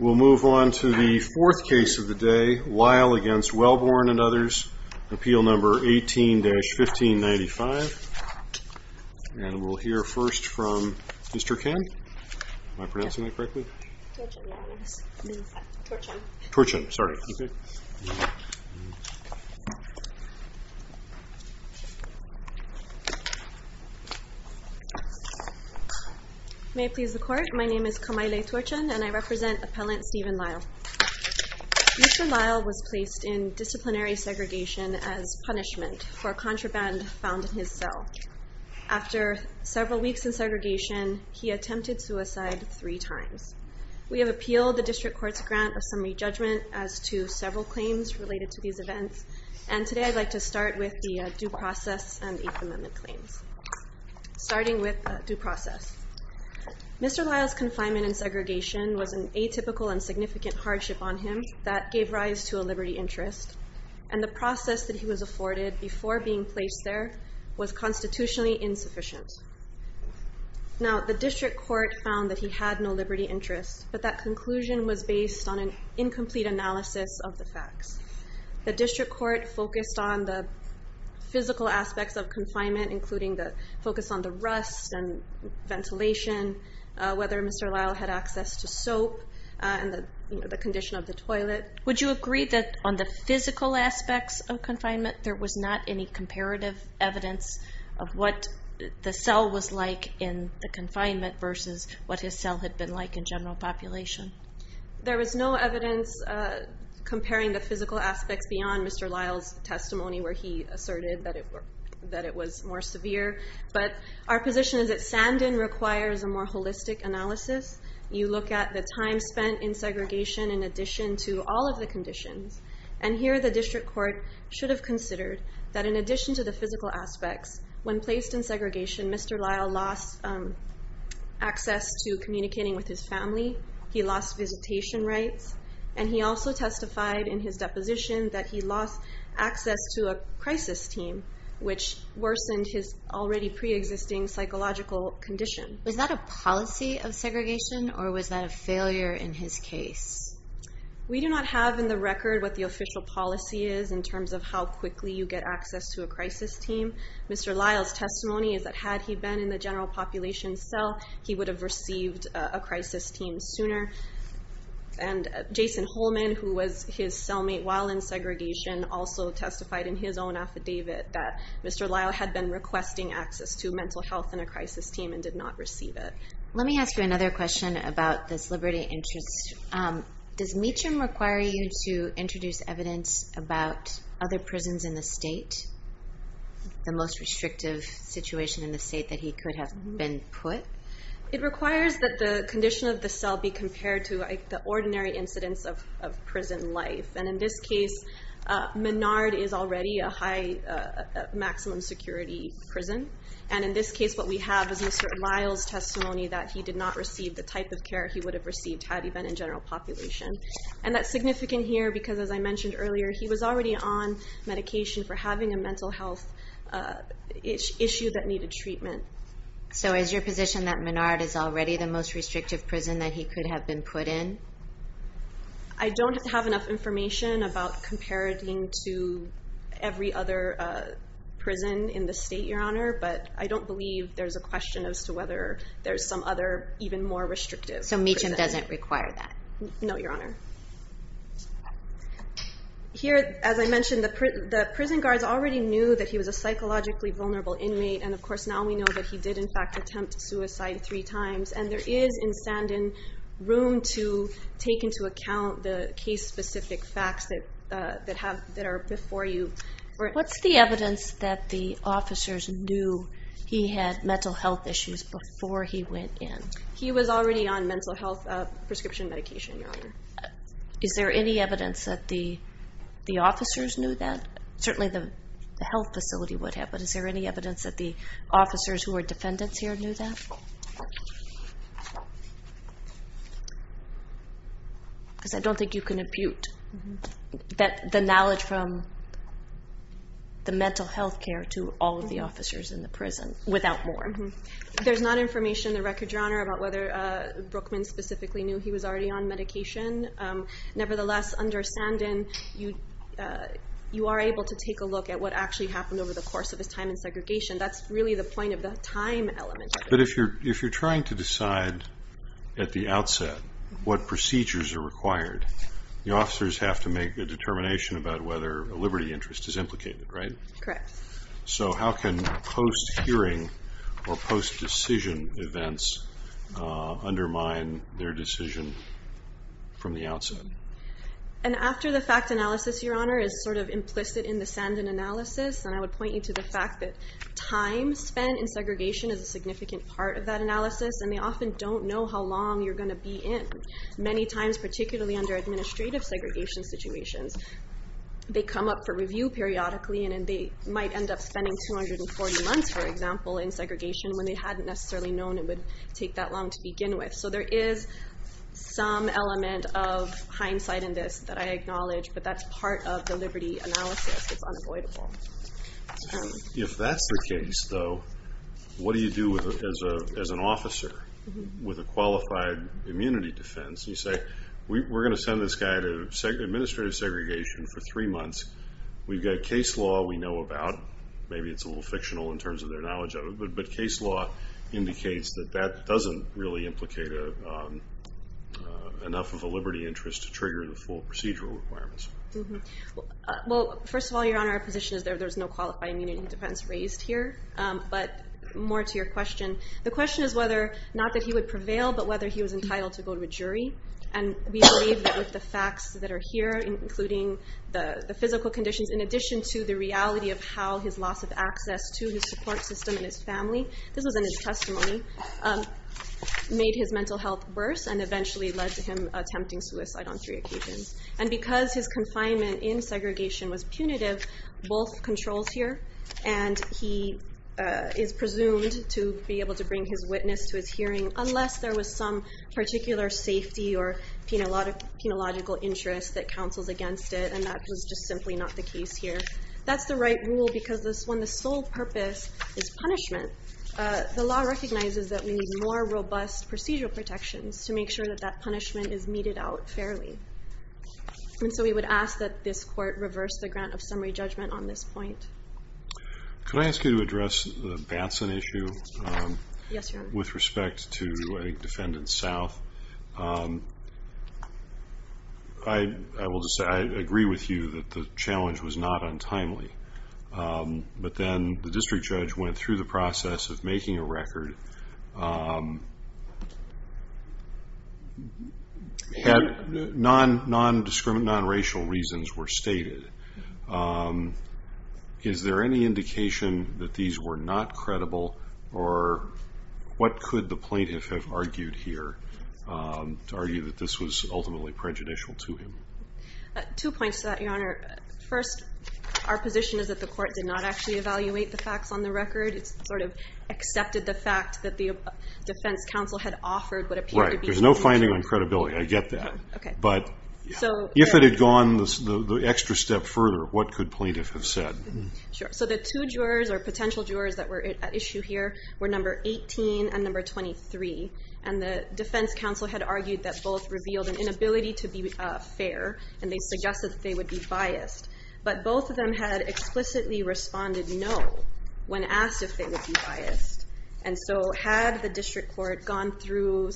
We'll move on to the fourth case of the day, Lisle v. Welborn and others, Appeal No. 18-1595. And we'll hear first from Mr. Kim. Am I pronouncing that correctly? Torchum. Torchum, sorry. Okay. May it please the Court, my name is Kamaile Torchum and I represent Appellant Stephen Lisle. Mr. Lisle was placed in disciplinary segregation as punishment for a contraband found in his cell. After several weeks in segregation, he attempted suicide three times. We have appealed the District Court's grant of summary judgment as to several claims related to these events, and today I'd like to start with the due process and the Eighth Amendment claims. Starting with due process. Mr. Lisle's confinement in segregation was an atypical and significant hardship on him that gave rise to a liberty interest, and the process that he was afforded before being placed there was constitutionally insufficient. Now, the District Court found that he had no liberty interest, but that conclusion was based on an incomplete analysis of the facts. The District Court focused on the physical aspects of confinement, including the focus on the rust and ventilation, whether Mr. Lisle had access to soap, and the condition of the toilet. Would you agree that on the physical aspects of confinement, there was not any comparative evidence of what the cell was like in the confinement versus what his cell had been like in general population? There was no evidence comparing the physical aspects beyond Mr. Lisle's testimony where he asserted that it was more severe, but our position is that Sandin requires a more holistic analysis. You look at the time spent in segregation in addition to all of the conditions, and here the District Court should have considered that in addition to the physical aspects, when placed in segregation, Mr. Lisle lost access to communicating with his family, he lost visitation rights, and he also testified in his deposition that he lost access to a crisis team, which worsened his already pre-existing psychological condition. Was that a policy of segregation, or was that a failure in his case? We do not have in the record what the official policy is in terms of how quickly you get access to a crisis team. Mr. Lisle's testimony is that had he been in the general population cell, he would have received a crisis team sooner. And Jason Holman, who was his cellmate while in segregation, also testified in his own affidavit that Mr. Lisle had been requesting access to mental health and a crisis team and did not receive it. Let me ask you another question about this liberty interest. Does Meacham require you to introduce evidence about other prisons in the state, the most restrictive situation in the state that he could have been put? It requires that the condition of the cell be compared to the ordinary incidence of prison life. And in this case, Menard is already a high maximum security prison. And in this case, what we have is Mr. Lisle's testimony that he did not receive the type of care he would have received had he been in general population. And that's significant here because, as I mentioned earlier, he was already on medication for having a mental health issue that needed treatment. So is your position that Menard is already the most restrictive prison that he could have been put in? I don't have enough information about comparing him to every other prison in the state, Your Honor, but I don't believe there's a question as to whether there's some other even more restrictive prison. So Meacham doesn't require that? No, Your Honor. Here, as I mentioned, the prison guards already knew that he was a psychologically vulnerable inmate. And, of course, now we know that he did, in fact, attempt suicide three times. And there is, in Sandin, room to take into account the case-specific facts that are before you. What's the evidence that the officers knew he had mental health issues before he went in? He was already on mental health prescription medication, Your Honor. Is there any evidence that the officers knew that? Certainly the health facility would have, but is there any evidence that the officers who were defendants here knew that? Because I don't think you can impute the knowledge from the mental health care to all of the officers in the prison without more. There's not information in the record, Your Honor, about whether Brookman specifically knew he was already on medication. Nevertheless, under Sandin, you are able to take a look at what actually happened over the course of his time in segregation. That's really the point of the time element. But if you're trying to decide at the outset what procedures are required, the officers have to make a determination about whether a liberty interest is implicated, right? Correct. So how can post-hearing or post-decision events undermine their decision from the outset? And after the fact analysis, Your Honor, is sort of implicit in the Sandin analysis, and I would point you to the fact that time spent in segregation is a significant part of that analysis, and they often don't know how long you're going to be in. Many times, particularly under administrative segregation situations, they come up for review periodically, and they might end up spending 240 months, for example, in segregation when they hadn't necessarily known it would take that long to begin with. So there is some element of hindsight in this that I acknowledge, but that's part of the liberty analysis. It's unavoidable. If that's the case, though, what do you do as an officer with a qualified immunity defense? You say, we're going to send this guy to administrative segregation for three months. We've got case law we know about. Maybe it's a little fictional in terms of their knowledge of it, but case law indicates that that doesn't really implicate enough of a liberty interest to trigger the full procedural requirements. Well, first of all, Your Honor, our position is that there's no qualified immunity defense raised here, but more to your question. The question is whether, not that he would prevail, but whether he was entitled to go to a jury. And we believe that with the facts that are here, including the physical conditions, in addition to the reality of how his loss of access to his support system and his family, this was in his testimony, made his mental health worse and eventually led to him attempting suicide on three occasions. And because his confinement in segregation was punitive, both controls here, and he is presumed to be able to bring his witness to his hearing unless there was some particular safety or penological interest that counsels against it, and that was just simply not the case here. That's the right rule because when the sole purpose is punishment, the law recognizes that we need more robust procedural protections to make sure that that punishment is meted out fairly. And so we would ask that this court reverse the grant of summary judgment on this point. Could I ask you to address the Batson issue? Yes, Your Honor. With respect to a defendant's south. I will just say I agree with you that the challenge was not untimely. But then the district judge went through the process of making a record, and non-racial reasons were stated. Is there any indication that these were not credible, or what could the plaintiff have argued here to argue that this was ultimately prejudicial to him? Two points to that, Your Honor. First, our position is that the court did not actually evaluate the facts on the record. It sort of accepted the fact that the defense counsel had offered what appeared to be. Right. There's no finding on credibility. I get that. Okay. But if it had gone the extra step further, what could plaintiff have said? Sure. So the two jurors or potential jurors that were at issue here were number 18 and number 23. And the defense counsel had argued that both revealed an inability to be fair, and they suggested that they would be biased. But both of them had explicitly responded no when asked if they would be biased. And so had the district court gone through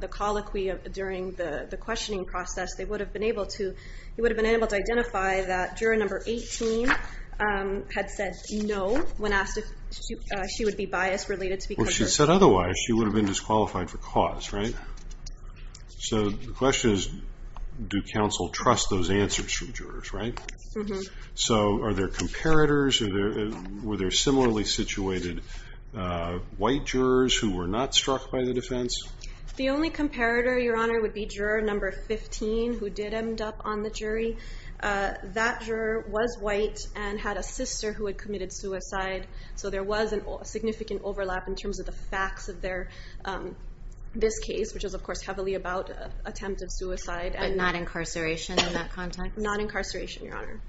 the colloquy during the questioning process, they would have been able to identify that juror number 18 had said no when asked if she would be biased related to because of... Well, she said otherwise. She would have been disqualified for cause, right? So the question is, do counsel trust those answers from jurors, right? Mm-hmm. So are there comparators? Were there similarly situated white jurors who were not struck by the defense? The only comparator, Your Honor, would be juror number 15 who did end up on the jury. That juror was white and had a sister who had committed suicide. So there was a significant overlap in terms of the facts of this case, which is, of course, heavily about attempt of suicide. But not incarceration in that context? Not incarceration, Your Honor.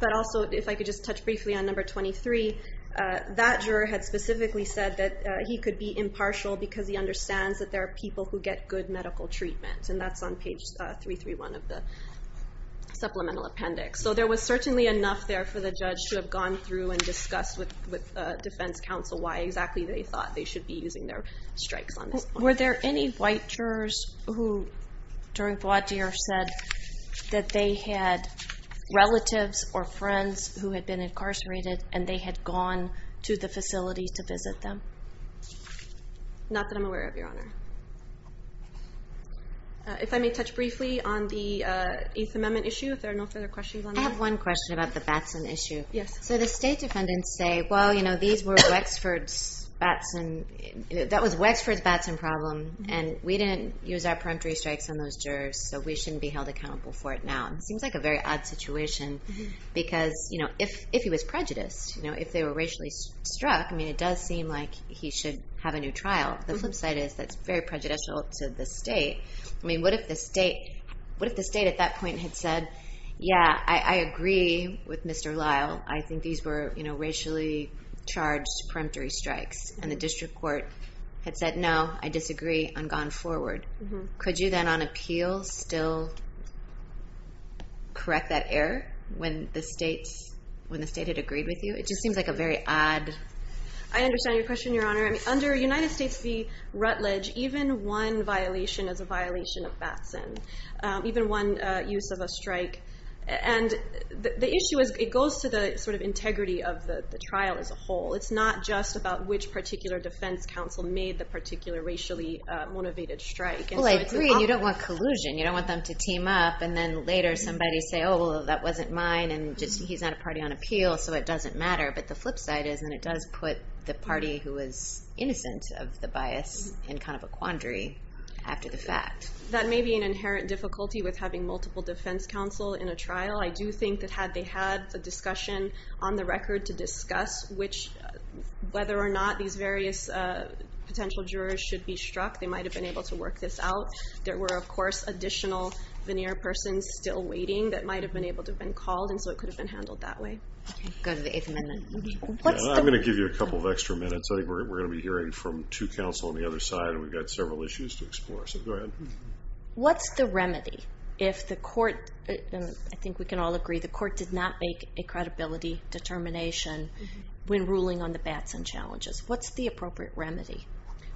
But also, if I could just touch briefly on number 23, that juror had specifically said that he could be impartial because he understands that there are people who get good medical treatment, and that's on page 331 of the supplemental appendix. So there was certainly enough there for the judge to have gone through and discussed with defense counsel why exactly they thought they should be using their strikes on this point. Were there any white jurors who, during Bois D'Ir, said that they had relatives or friends who had been incarcerated and they had gone to the facility to visit them? Not that I'm aware of, Your Honor. If I may touch briefly on the Eighth Amendment issue, if there are no further questions on that. I have one question about the Batson issue. So the state defendants say, well, you know, these were Wexford's Batson. That was Wexford's Batson problem, and we didn't use our peremptory strikes on those jurors, so we shouldn't be held accountable for it now. It seems like a very odd situation because, you know, if he was prejudiced, you know, if they were racially struck, I mean, it does seem like he should have a new trial. The flip side is that's very prejudicial to the state. I mean, what if the state at that point had said, yeah, I agree with Mr. Lyle. I think these were, you know, racially charged peremptory strikes, and the district court had said, no, I disagree, and gone forward. Could you then on appeal still correct that error when the state had agreed with you? It just seems like a very odd... I understand your question, Your Honor. Under United States v. Rutledge, even one violation is a violation of Batson, even one use of a strike. And the issue is it goes to the sort of integrity of the trial as a whole. It's not just about which particular defense counsel made the particular racially motivated strike. Well, I agree, and you don't want collusion. You don't want them to team up and then later somebody say, oh, well, that wasn't mine, and just he's not a party on appeal, so it doesn't matter. But the flip side is then it does put the party who is innocent of the bias in kind of a quandary after the fact. That may be an inherent difficulty with having multiple defense counsel in a trial. I do think that had they had the discussion on the record to discuss whether or not these various potential jurors should be struck, they might have been able to work this out. There were, of course, additional veneer persons still waiting that might have been able to have been called, and so it could have been handled that way. Go to the Eighth Amendment. I'm going to give you a couple of extra minutes. I think we're going to be hearing from two counsel on the other side, and we've got several issues to explore, so go ahead. What's the remedy if the court, and I think we can all agree, the court did not make a credibility determination when ruling on the Batson challenges? What's the appropriate remedy?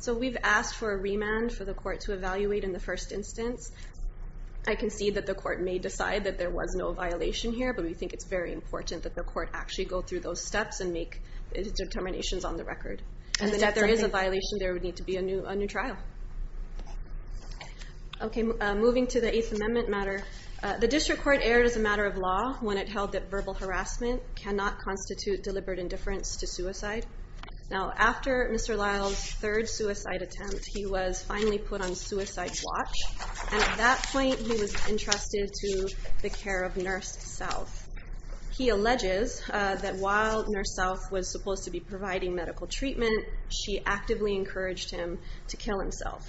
We've asked for a remand for the court to evaluate in the first instance. I can see that the court may decide that there was no violation here, but we think it's very important that the court actually go through those steps and make determinations on the record. If there is a violation, there would need to be a new trial. Moving to the Eighth Amendment matter, the district court erred as a matter of law when it held that verbal harassment cannot constitute deliberate indifference to suicide. Now, after Mr. Lyle's third suicide attempt, he was finally put on suicide watch, and at that point he was entrusted to the care of Nurse South. He alleges that while Nurse South was supposed to be providing medical treatment, she actively encouraged him to kill himself.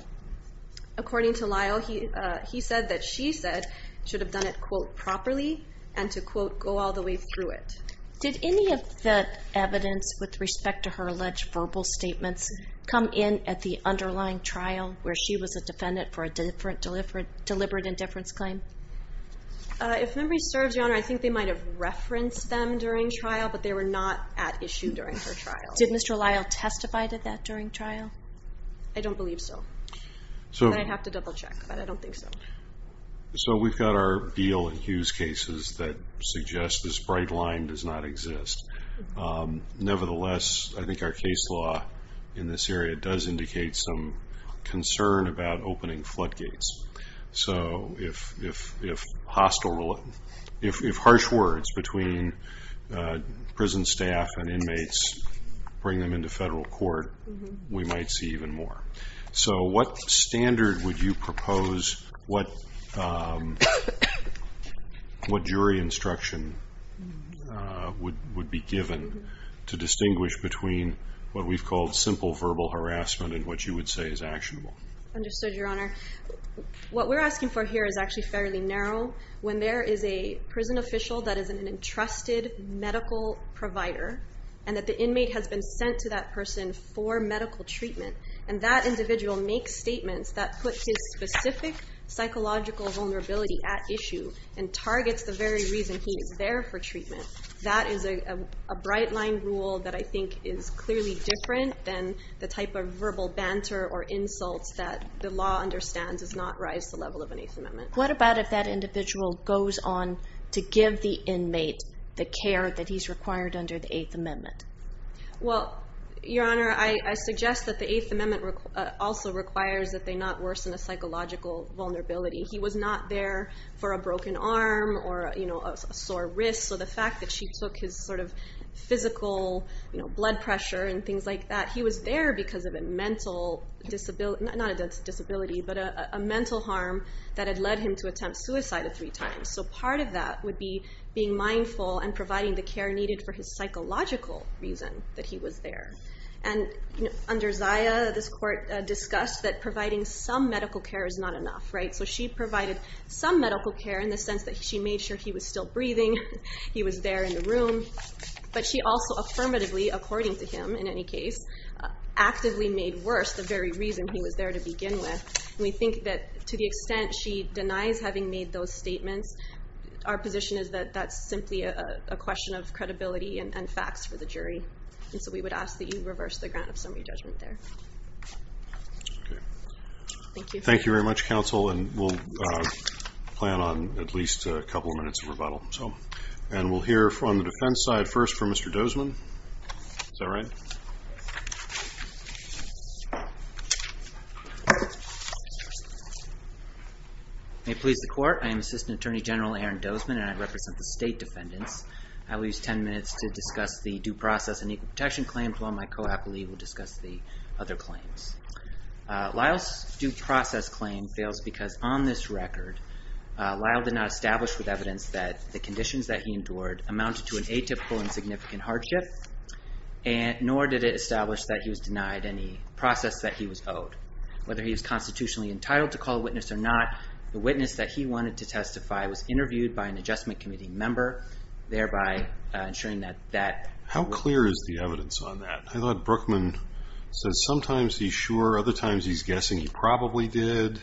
According to Lyle, he said that she said she should have done it, quote, properly, and to, quote, go all the way through it. Did any of the evidence with respect to her alleged verbal statements come in at the underlying trial where she was a defendant for a deliberate indifference claim? If memory serves, Your Honor, I think they might have referenced them during trial, but they were not at issue during her trial. Did Mr. Lyle testify to that during trial? I don't believe so. I'd have to double check, but I don't think so. So we've got our Beal and Hughes cases that suggest this bright line does not exist. Nevertheless, I think our case law in this area does indicate some concern about opening floodgates. So if harsh words between prison staff and inmates bring them into federal court, we might see even more. So what standard would you propose? What jury instruction would be given to distinguish between what we've called simple verbal harassment and what you would say is actionable? Understood, Your Honor. What we're asking for here is actually fairly narrow. When there is a prison official that is an entrusted medical provider and that the inmate has been sent to that person for medical treatment, and that individual makes statements that put his specific psychological vulnerability at issue and targets the very reason he is there for treatment, that is a bright-line rule that I think is clearly different than the type of verbal banter or insults that the law understands does not rise to the level of an Eighth Amendment. What about if that individual goes on to give the inmate the care that he's required under the Eighth Amendment? Well, Your Honor, I suggest that the Eighth Amendment also requires that they not worsen a psychological vulnerability. He was not there for a broken arm or a sore wrist, so the fact that she took his physical blood pressure and things like that, he was there because of a mental... not a disability, but a mental harm that had led him to attempt suicide three times. So part of that would be being mindful and providing the care needed for his psychological reason that he was there. And under Zaya, this court discussed that providing some medical care is not enough. So she provided some medical care in the sense that she made sure he was still breathing, he was there in the room, but she also affirmatively, according to him in any case, actively made worse the very reason he was there to begin with. And we think that to the extent she denies having made those statements, our position is that that's simply a question of credibility and facts for the jury. And so we would ask that you reverse the grant of summary judgment there. Okay. Thank you. Thank you very much, counsel, and we'll plan on at least a couple of minutes of rebuttal. And we'll hear from the defense side first for Mr. Dozman. Is that right? May it please the court, I am Assistant Attorney General Aaron Dozman and I represent the state defendants. I will use 10 minutes to discuss the due process and equal protection claims while my co-appellee will discuss the other claims. Lyle's due process claim fails because on this record, Lyle did not establish with evidence that the conditions that he endured amounted to an atypical and significant hardship, nor did it establish that he was denied any process that he was owed. Whether he was constitutionally entitled to call a witness or not, the witness that he wanted to testify was interviewed by an Adjustment Committee member, thereby ensuring that that... How clear is the evidence on that? I thought Brookman said sometimes he's sure, other times he's guessing he probably did.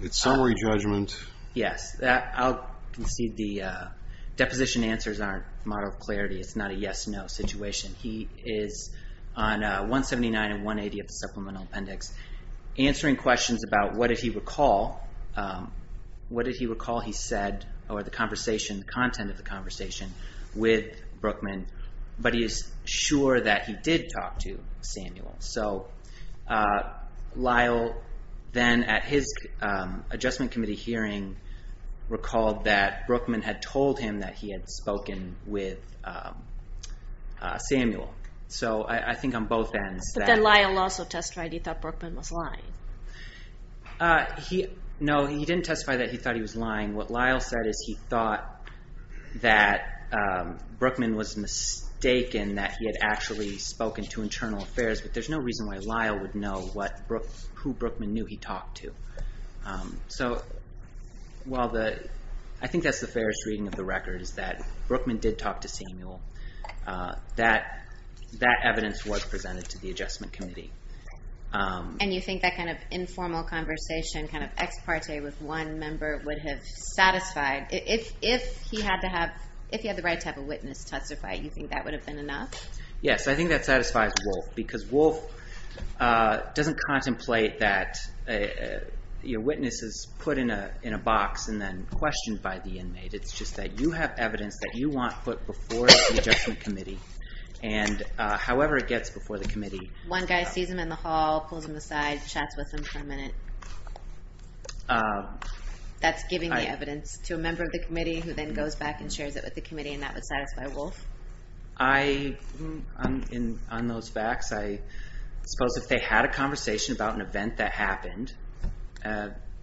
It's summary judgment. Yes. I'll concede the deposition answers aren't a model of clarity. It's not a yes-no situation. He is on 179 and 180 of the Supplemental Appendix answering questions about what did he recall he said or the content of the conversation with Brookman, but he is sure that he did talk to Samuel. Lyle then, at his Adjustment Committee hearing, recalled that Brookman had told him that he had spoken with Samuel. So I think on both ends. But then Lyle also testified he thought Brookman was lying. No, he didn't testify that he thought he was lying. What Lyle said is he thought that Brookman was mistaken that he had actually spoken to Internal Affairs, but there's no reason why Lyle would know who Brookman knew he talked to. So while I think that's the fairest reading of the record is that Brookman did talk to Samuel, that evidence was presented to the Adjustment Committee. And you think that kind of informal conversation, kind of ex parte with one member would have satisfied? If he had the right to have a witness testify, you think that would have been enough? Yes, I think that satisfies Wolf, because Wolf doesn't contemplate that your witness is put in a box and then questioned by the inmate. It's just that you have evidence that you want put before the Adjustment Committee, and however it gets before the committee. One guy sees him in the hall, pulls him aside, chats with him for a minute. That's giving the evidence to a member of the committee who then goes back and shares it with the committee, and that would satisfy Wolf? On those facts, I suppose if they had a conversation about an event that happened,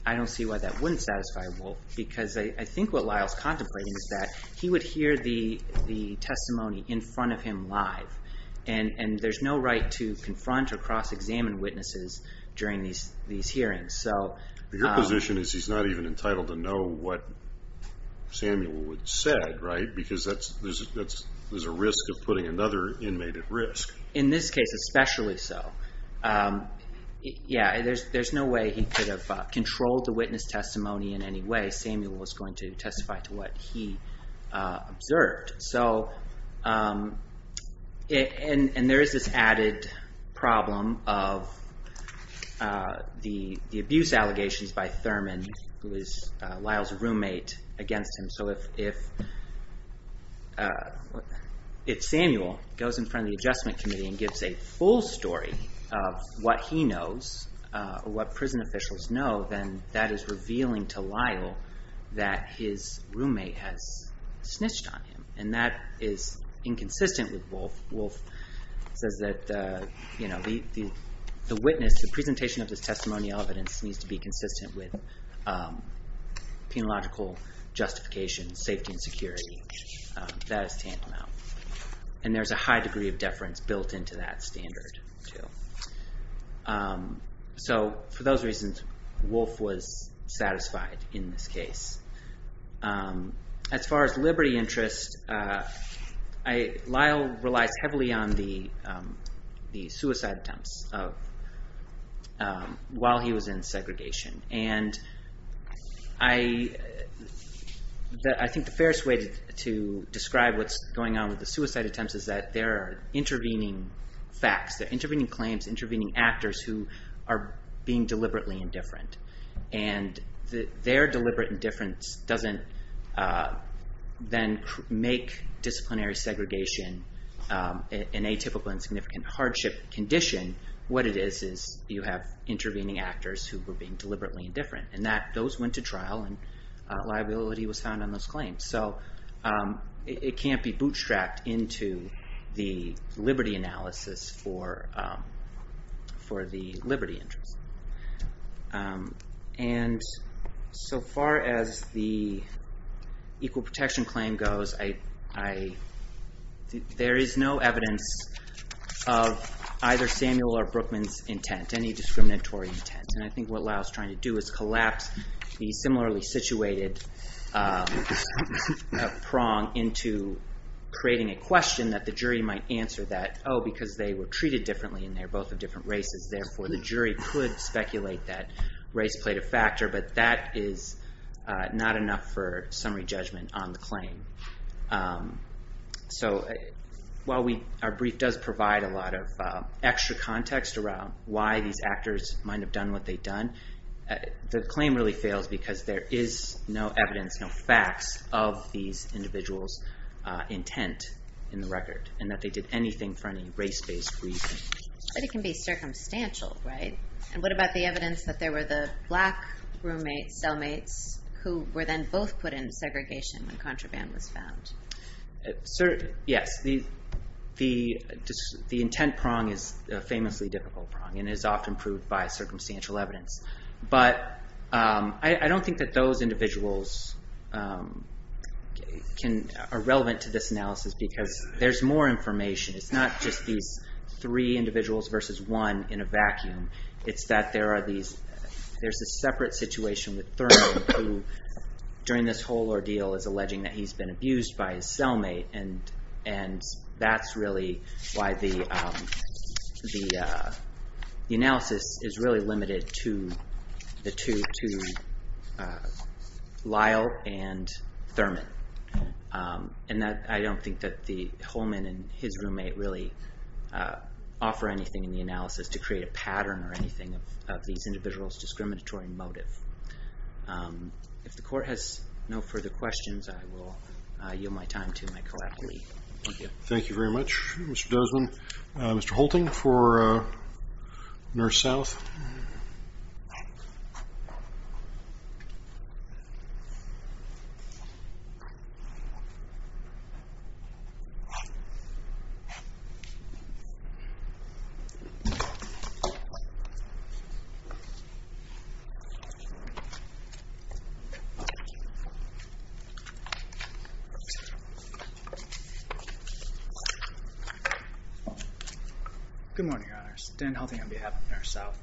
I don't see why that wouldn't satisfy Wolf, because I think what Lyle's contemplating is that he would hear the testimony in front of him live, and there's no right to confront or cross-examine witnesses during these hearings. Your position is he's not even entitled to know what Samuel said, right? Because there's a risk of putting another inmate at risk. In this case, especially so. Yeah, there's no way he could have controlled the witness testimony in any way. Samuel was going to testify to what he observed. There is this added problem of the abuse allegations by Thurman, who is Lyle's roommate, against him. So if Samuel goes in front of the adjustment committee and gives a full story of what he knows, or what prison officials know, then that is revealing to Lyle that his roommate has snitched on him, and that is inconsistent with Wolf. Wolf says that the witness, the presentation of this testimonial evidence, needs to be consistent with penological justification, safety, and security. That is tantamount. And there's a high degree of deference built into that standard, too. So for those reasons, Wolf was satisfied in this case. As far as liberty interests, Lyle relies heavily on the suicide attempts while he was in segregation. And I think the fairest way to describe what's going on with the suicide attempts is that they're intervening facts. They're intervening claims, intervening actors who are being deliberately indifferent. And their deliberate indifference doesn't then make disciplinary segregation an atypical and significant hardship condition. What it is is you have intervening actors who were being deliberately indifferent. And those went to trial, and liability was found on those claims. So it can't be bootstrapped into the liberty analysis for the liberty interest. And so far as the equal protection claim goes, there is no evidence of either Samuel or Brookman's intent, any discriminatory intent. And I think what Lyle's trying to do is collapse the similarly situated prong into creating a question that the jury might answer that, oh, because they were treated differently, and they're both of different races, therefore the jury could speculate that race played a factor. But that is not enough for summary judgment on the claim. So while our brief does provide a lot of extra context around why these actors might have done what they'd done, the claim really fails because there is no evidence, no facts of these individuals' intent in the record, and that they did anything for any race-based reason. But it can be circumstantial, right? And what about the evidence that there were the black cellmates who were then both put in segregation when contraband was found? Yes, the intent prong is a famously difficult prong and is often proved by circumstantial evidence. But I don't think that those individuals are relevant to this analysis because there's more information. It's not just these three individuals versus one in a vacuum. It's that there's a separate situation with Thurman who during this whole ordeal is alleging that he's been abused by his cellmate, and that's really why the analysis is really limited to Lyle and Thurman. And I don't think that Holman and his roommate really offer anything in the analysis to create a pattern or anything of these individuals' discriminatory motive. If the Court has no further questions, I will yield my time to my co-advocate. Thank you. Thank you very much, Mr. Dozman. Thank you, Mr. Holting for Nurse South. Good morning, Your Honors. Dan Holting on behalf of Nurse South.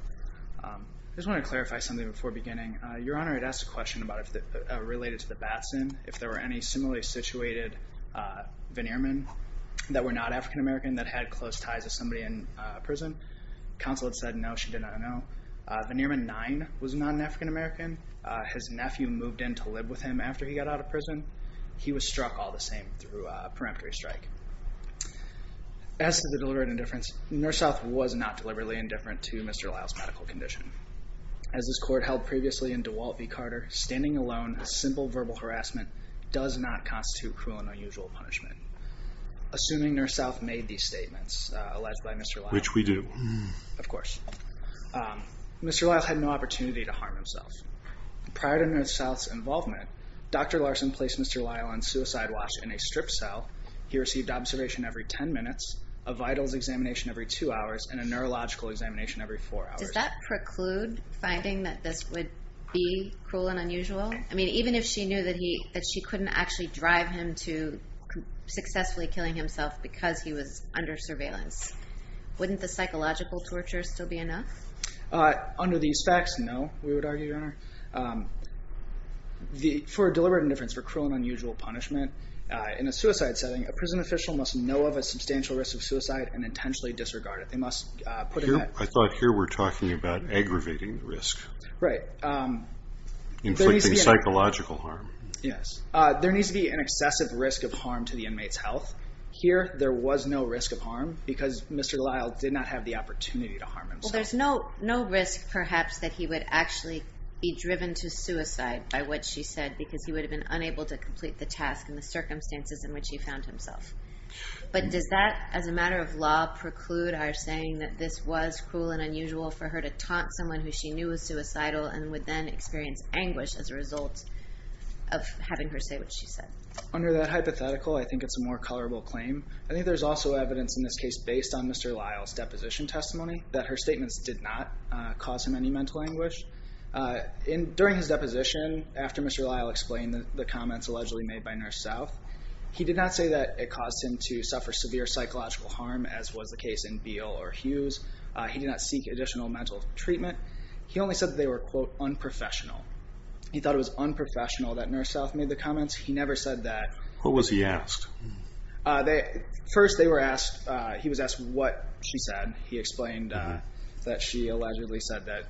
I just want to clarify something before beginning. Your Honor, I'd ask a question related to the Batson. If there were any similarly situated veneermen that were not African American that had close ties to somebody in prison. Counsel had said no, she did not know. Veneerman 9 was not an African American. His nephew moved in to live with him after he got out of prison. He was struck all the same through a peremptory strike. As to the deliberate indifference, Nurse South was not deliberately indifferent to Mr. Lyle's medical condition. As this Court held previously in DeWalt v. Carter, standing alone with simple verbal harassment does not constitute cruel and unusual punishment. Assuming Nurse South made these statements alleged by Mr. Lyle. Which we do. Of course. Mr. Lyle had no opportunity to harm himself. Prior to Nurse South's involvement, Dr. Larson placed Mr. Lyle on suicide watch in a strip cell. He received observation every 10 minutes, a vitals examination every 2 hours, and a neurological examination every 4 hours. Does that preclude finding that this would be cruel and unusual? Even if she knew that she couldn't actually drive him to successfully killing himself because he was under surveillance, wouldn't the psychological torture still be enough? Under these facts, no, we would argue, Your Honor. For deliberate indifference, for cruel and unusual punishment, in a suicide setting, a prison official must know of a substantial risk of suicide and intentionally disregard it. I thought here we're talking about aggravating risk. Right. Inflicting psychological harm. Yes. There needs to be an excessive risk of harm to the inmate's health. Here, there was no risk of harm because Mr. Lyle did not have the opportunity to harm himself. Well, there's no risk, perhaps, that he would actually be driven to suicide by what she said because he would have been unable to complete the task and the circumstances in which he found himself. But does that, as a matter of law, preclude our saying that this was cruel and unusual for her to taunt someone who she knew was suicidal and would then experience anguish as a result of having her say what she said? Under that hypothetical, I think it's a more colorable claim. I think there's also evidence in this case based on Mr. Lyle's deposition testimony that her statements did not cause him any mental anguish. During his deposition, after Mr. Lyle explained the comments allegedly made by Nurse South, he did not say that it caused him to suffer severe psychological harm, as was the case in Beal or Hughes. He did not seek additional mental treatment. He only said that they were, quote, unprofessional. He thought it was unprofessional that Nurse South made the comments. He never said that... What was he asked? First, he was asked what she said. Then he explained that she allegedly said that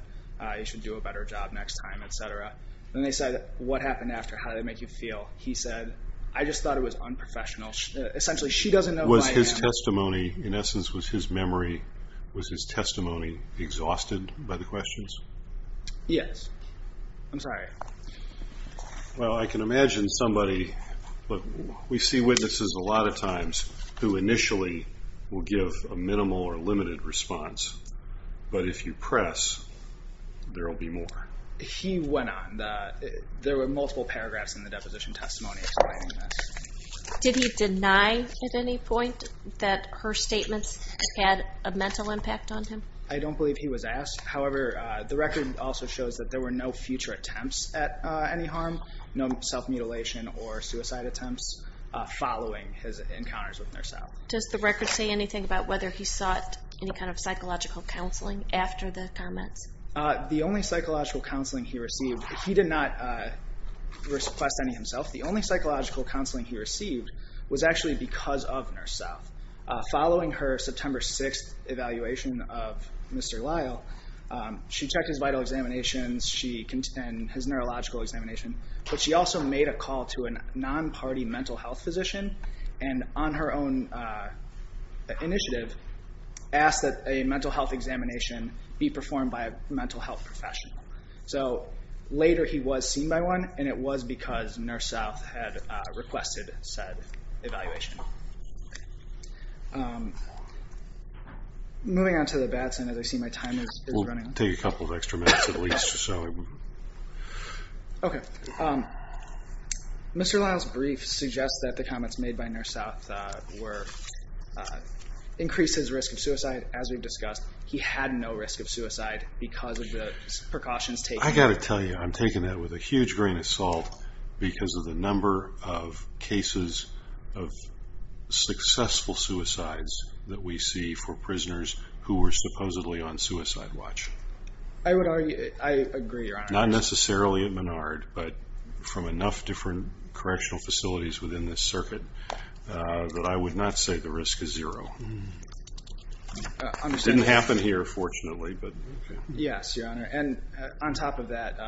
you should do a better job next time, et cetera. Then they said, what happened after? How did it make you feel? He said, I just thought it was unprofessional. Essentially, she doesn't know who I am. Was his testimony, in essence, was his memory, was his testimony exhausted by the questions? Yes. I'm sorry. Well, I can imagine somebody... We see witnesses a lot of times who initially will give a minimal or limited response, but if you press, there will be more. He went on. There were multiple paragraphs in the deposition testimony explaining this. Did he deny at any point that her statements had a mental impact on him? I don't believe he was asked. However, the record also shows that there were no future attempts at any harm, no self-mutilation or suicide attempts following his encounters with Nurse South. Does the record say anything about whether he sought any kind of psychological counseling after the comments? The only psychological counseling he received, he did not request any himself. The only psychological counseling he received was actually because of Nurse South. Following her September 6th evaluation of Mr. Lyle, she checked his vital examinations, his neurological examination, but she also made a call to a non-party mental health physician and on her own initiative asked that a mental health examination be performed by a mental health professional. So later he was seen by one, and it was because Nurse South had requested said evaluation. Moving on to the Batson, as I see my time is running out. I'll take a couple of extra minutes at least. Okay. Mr. Lyle's brief suggests that the comments made by Nurse South were increase his risk of suicide, as we've discussed. He had no risk of suicide because of the precautions taken. I've got to tell you, I'm taking that with a huge grain of salt because of the number of cases of successful suicides that we see for prisoners who were supposedly on suicide watch. I agree, Your Honor. Not necessarily at Menard, but from enough different correctional facilities within this circuit that I would not say the risk is zero. It didn't happen here, fortunately. Yes, Your Honor. And on top of that,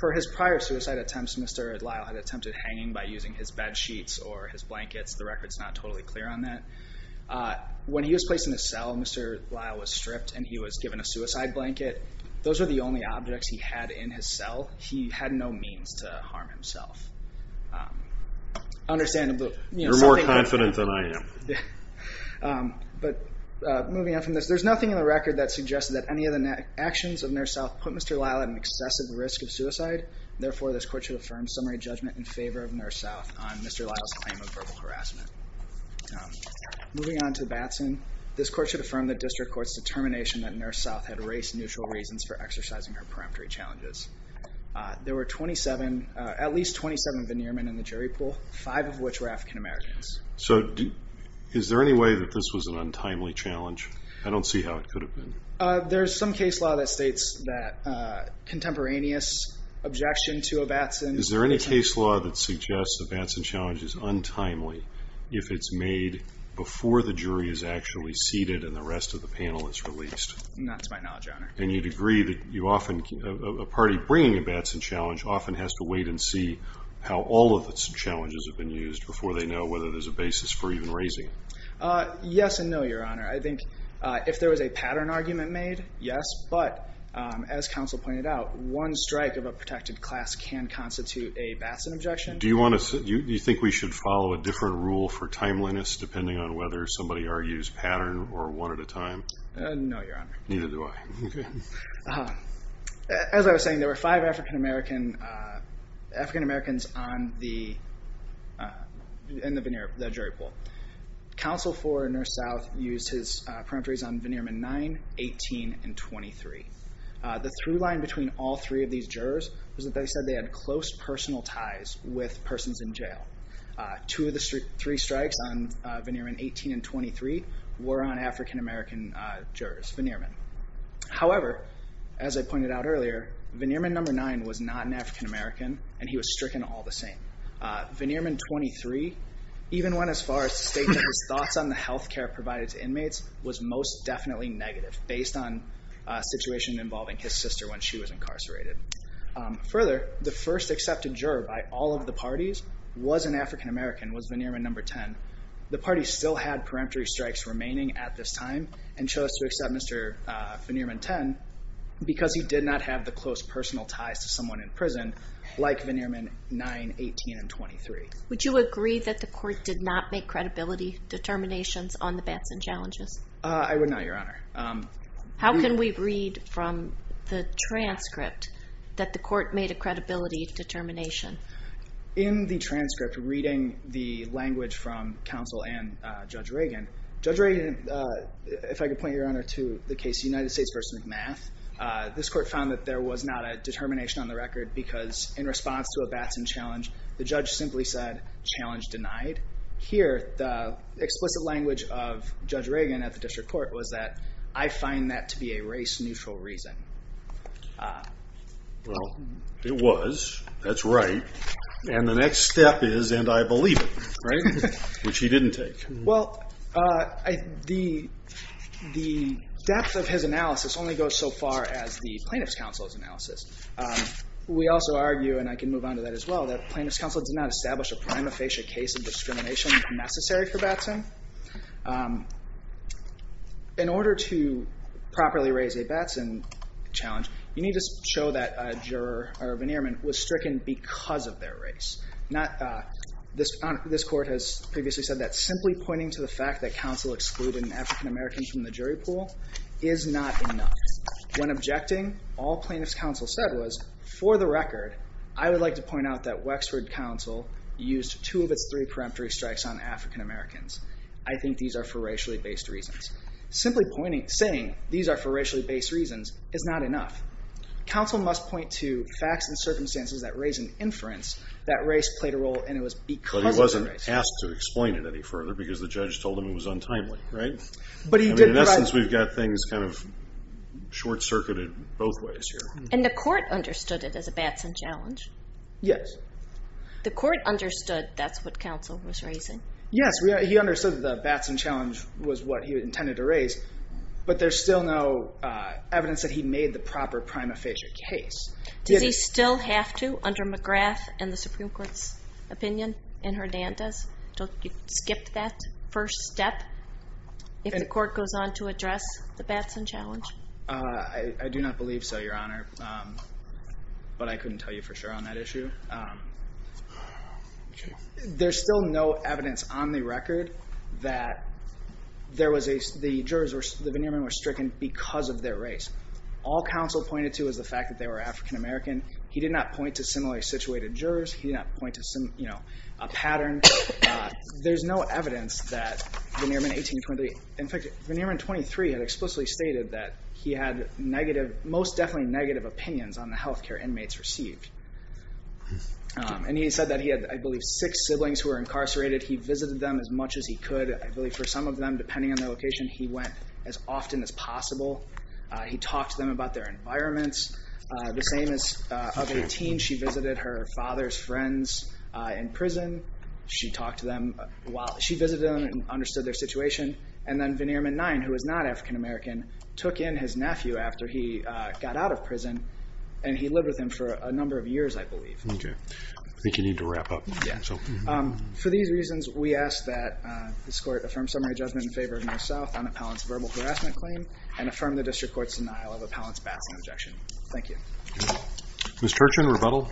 for his prior suicide attempts, Mr. Lyle had attempted hanging by using his bed sheets or his blankets. The record is not totally clear on that. When he was placed in the cell, Mr. Lyle was stripped and he was given a suicide blanket. Those were the only objects he had in his cell. He had no means to harm himself. You're more confident than I am. Moving on from this, there's nothing in the record that suggests that any of the actions of Nurse South put Mr. Lyle at an excessive risk of suicide. Therefore, this court should affirm summary judgment in favor of Nurse South on Mr. Lyle's claim of verbal harassment. Moving on to Batson, this court should affirm the district court's determination that Nurse South had race-neutral reasons for exercising her peremptory challenges. There were at least 27 veneer men in the jury pool, five of which were African Americans. So is there any way that this was an untimely challenge? I don't see how it could have been. There's some case law that states that contemporaneous objection to a Batson Is there any case law that suggests a Batson challenge is untimely if it's made before the jury is actually seated and the rest of the panel is released? Not to my knowledge, Your Honor. And you'd agree that a party bringing a Batson challenge often has to wait and see how all of its challenges have been used before they know whether there's a basis for even raising it? Yes and no, Your Honor. I think if there was a pattern argument made, yes. But as counsel pointed out, one strike of a protected class can constitute a Batson objection. Do you think we should follow a different rule for timeliness depending on whether somebody argues pattern or one at a time? No, Your Honor. Neither do I. As I was saying, there were five African Americans in the jury pool. Counsel for Nurse South used his peremptories on Vannierman 9, 18, and 23. The through line between all three of these jurors was that they said they had close personal ties with persons in jail. Two of the three strikes on Vannierman 18 and 23 were on African American jurors, Vannierman. However, as I pointed out earlier, Vannierman number 9 was not an African American and he was stricken all the same. Vannierman 23 even went as far as to state that his thoughts on the health care provided to inmates was most definitely negative based on a situation involving his sister when she was incarcerated. Further, the first accepted juror by all of the parties was an African American, was Vannierman number 10. The party still had peremptory strikes remaining at this time and chose to accept Mr. Vannierman 10 because he did not have the close personal ties to someone in prison like Vannierman 9, 18, and 23. Would you agree that the court did not make credibility determinations on the Batson challenges? I would not, Your Honor. How can we read from the transcript that the court made a credibility determination? In the transcript, reading the language from counsel and Judge Reagan, if I could point you, Your Honor, to the case United States v. McMath, this court found that there was not a determination on the record because in response to a Batson challenge, the judge simply said, challenge denied. Here, the explicit language of Judge Reagan at the district court was that, I find that to be a race-neutral reason. Well, it was. That's right. And the next step is, and I believe it, which he didn't take. Well, the depth of his analysis only goes so far as the plaintiff's counsel's analysis. We also argue, and I can move on to that as well, that the plaintiff's counsel did not establish a prima facie case of discrimination necessary for Batson. In order to properly raise a Batson challenge, you need to show that a juror or a Vannierman was stricken because of their race. This court has previously said that simply pointing to the fact that counsel excluded an African-American from the jury pool is not enough. When objecting, all plaintiff's counsel said was, for the record, I would like to point out that Wexford counsel used two of its three preemptory strikes on African-Americans. I think these are for racially-based reasons. Simply saying these are for racially-based reasons is not enough. Counsel must point to facts and circumstances that raise an inference that race played a role, and it was because of race. But he wasn't asked to explain it any further because the judge told him it was untimely, right? In essence, we've got things kind of short-circuited both ways here. And the court understood it as a Batson challenge? Yes. The court understood that's what counsel was raising? But there's still no evidence that he made the proper prima facie case. Does he still have to, under McGrath and the Supreme Court's opinion, in Hernandez? Don't you skip that first step if the court goes on to address the Batson challenge? I do not believe so, Your Honor. But I couldn't tell you for sure on that issue. There's still no evidence on the record that the jurors were stricken because of their race. All counsel pointed to was the fact that they were African-American. He did not point to similarly situated jurors. He did not point to a pattern. There's no evidence that Vannierman 1823, in fact, Vannierman 23, had explicitly stated that he had most definitely negative opinions on the health care inmates received. And he said that he had, I believe, six siblings who were incarcerated. He visited them as much as he could. I believe for some of them, depending on their location, he went as often as possible. He talked to them about their environments. The same as of 18, she visited her father's friends in prison. She talked to them while she visited them and understood their situation. And then Vannierman 9, who was not African-American, took in his nephew after he got out of prison. And he lived with him for a number of years, I believe. Okay. I think you need to wrap up. Yeah. For these reasons, we ask that this court affirm summary judgment in favor of North-South on Appellant's verbal harassment claim and affirm the district court's denial of Appellant's bashing objection. Thank you. Ms. Turchin, rebuttal.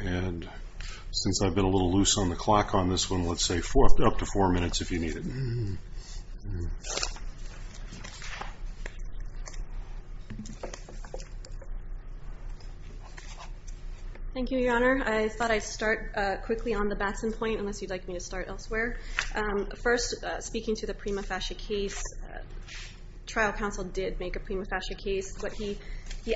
And since I've been a little loose on the clock on this one, let's say up to four minutes if you need it. Thank you. Thank you, Your Honor. I thought I'd start quickly on the Batson point, unless you'd like me to start elsewhere. First, speaking to the Prima Fascia case, trial counsel did make a Prima Fascia case. What he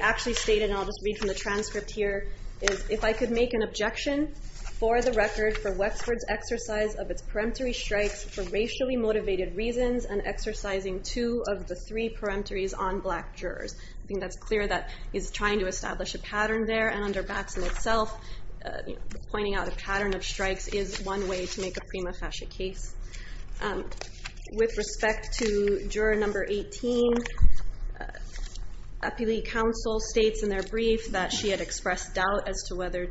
actually stated, and I'll just read from the transcript here, is if I could make an objection for the record for Wexford's exercise of its peremptory strikes for racially motivated reasons and exercising two of the three peremptories on black jurors. I think that's clear that he's trying to establish a pattern there, and under Batson itself, pointing out a pattern of strikes is one way to make a Prima Fascia case. With respect to juror number 18, appellee counsel states in their brief that she had expressed doubt as to whether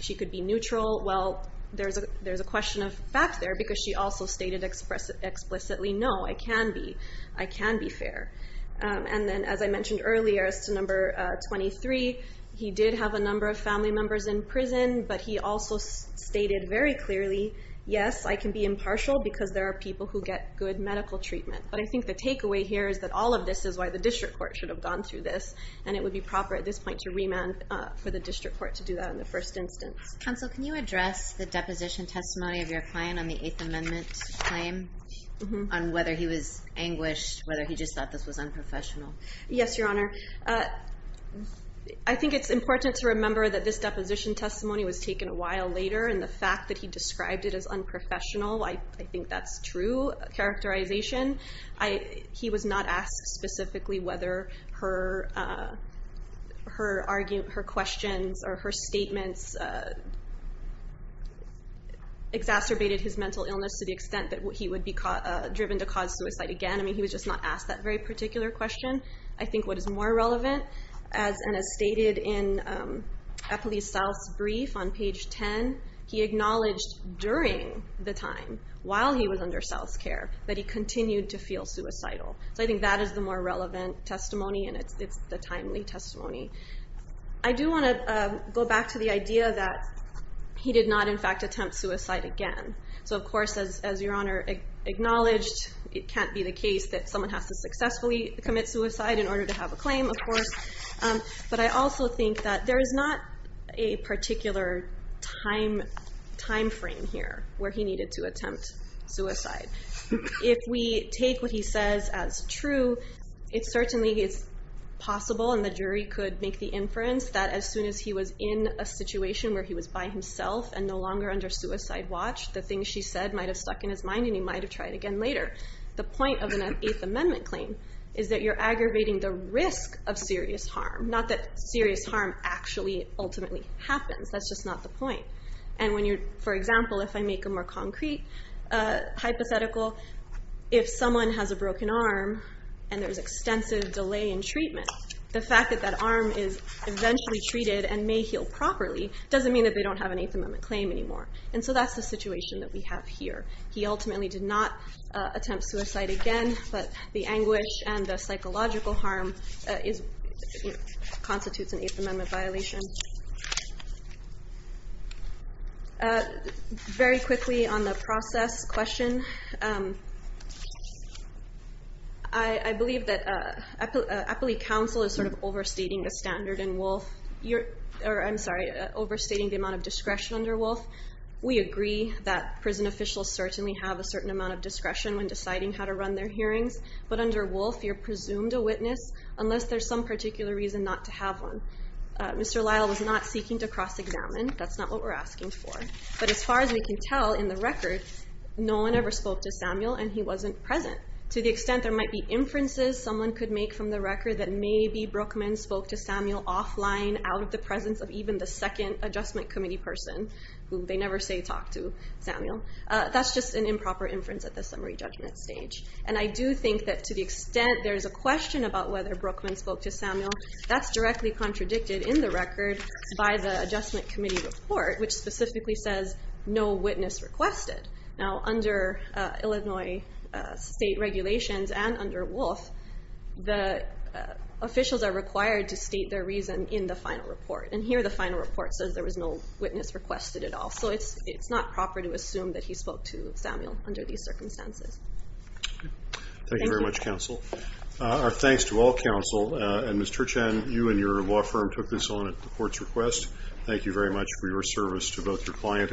she could be neutral. Well, there's a question of fact there, because she also stated explicitly, no, I can be. I can be fair. And then, as I mentioned earlier, as to number 23, he did have a number of family members in prison, but he also stated very clearly, yes, I can be impartial because there are people who get good medical treatment. But I think the takeaway here is that all of this is why the district court should have gone through this, and it would be proper at this point to remand for the district court to do that in the first instance. Counsel, can you address the deposition testimony of your client on the Eighth Amendment claim, on whether he was anguished, whether he just thought this was unprofessional? Yes, Your Honor. I think it's important to remember that this deposition testimony was taken a while later, and the fact that he described it as unprofessional, I think that's true characterization. He was not asked specifically whether her questions or her statements exacerbated his mental illness to the extent that he would be driven to cause suicide again. I mean, he was just not asked that very particular question. I think what is more relevant, and as stated in Eppley South's brief on page 10, he acknowledged during the time, while he was under South's care, that he continued to feel suicidal. So I think that is the more relevant testimony, and it's the timely testimony. I do want to go back to the idea that he did not, in fact, attempt suicide again. So of course, as Your Honor acknowledged, it can't be the case that someone has to successfully commit suicide But I also think that there is not a particular time frame here where he needed to attempt suicide. If we take what he says as true, it certainly is possible, and the jury could make the inference, that as soon as he was in a situation where he was by himself and no longer under suicide watch, the things she said might have stuck in his mind and he might have tried again later. The point of an Eighth Amendment claim is that you're aggravating the risk of serious harm, not that serious harm actually ultimately happens. That's just not the point. And for example, if I make a more concrete hypothetical, if someone has a broken arm and there's extensive delay in treatment, the fact that that arm is eventually treated and may heal properly doesn't mean that they don't have an Eighth Amendment claim anymore. And so that's the situation that we have here. He ultimately did not attempt suicide again, but the anguish and the psychological harm constitutes an Eighth Amendment violation. Very quickly on the process question, I believe that Appellate Counsel is sort of overstating the standard in Wolf. I'm sorry, overstating the amount of discretion under Wolf. We agree that prison officials certainly have a certain amount of discretion when deciding how to run their hearings. But under Wolf, you're presumed a witness unless there's some particular reason not to have one. Mr. Lyle was not seeking to cross-examine. That's not what we're asking for. But as far as we can tell in the record, no one ever spoke to Samuel and he wasn't present. To the extent there might be inferences someone could make from the record that maybe Brookman spoke to Samuel offline out of the presence of even the second Adjustment Committee person, who they never say talk to Samuel, that's just an improper inference at the summary judgment stage. And I do think that to the extent there's a question about whether Brookman spoke to Samuel, that's directly contradicted in the record by the Adjustment Committee report, which specifically says no witness requested. Now under Illinois state regulations and under Wolf, the officials are required to state their reason in the final report. And here the final report says there was no witness requested at all. So it's not proper to assume that he spoke to Samuel under these circumstances. Thank you very much, counsel. Our thanks to all counsel. And Ms. Turchan, you and your law firm took this on at the court's request. Thank you very much for your service to both your client and the court.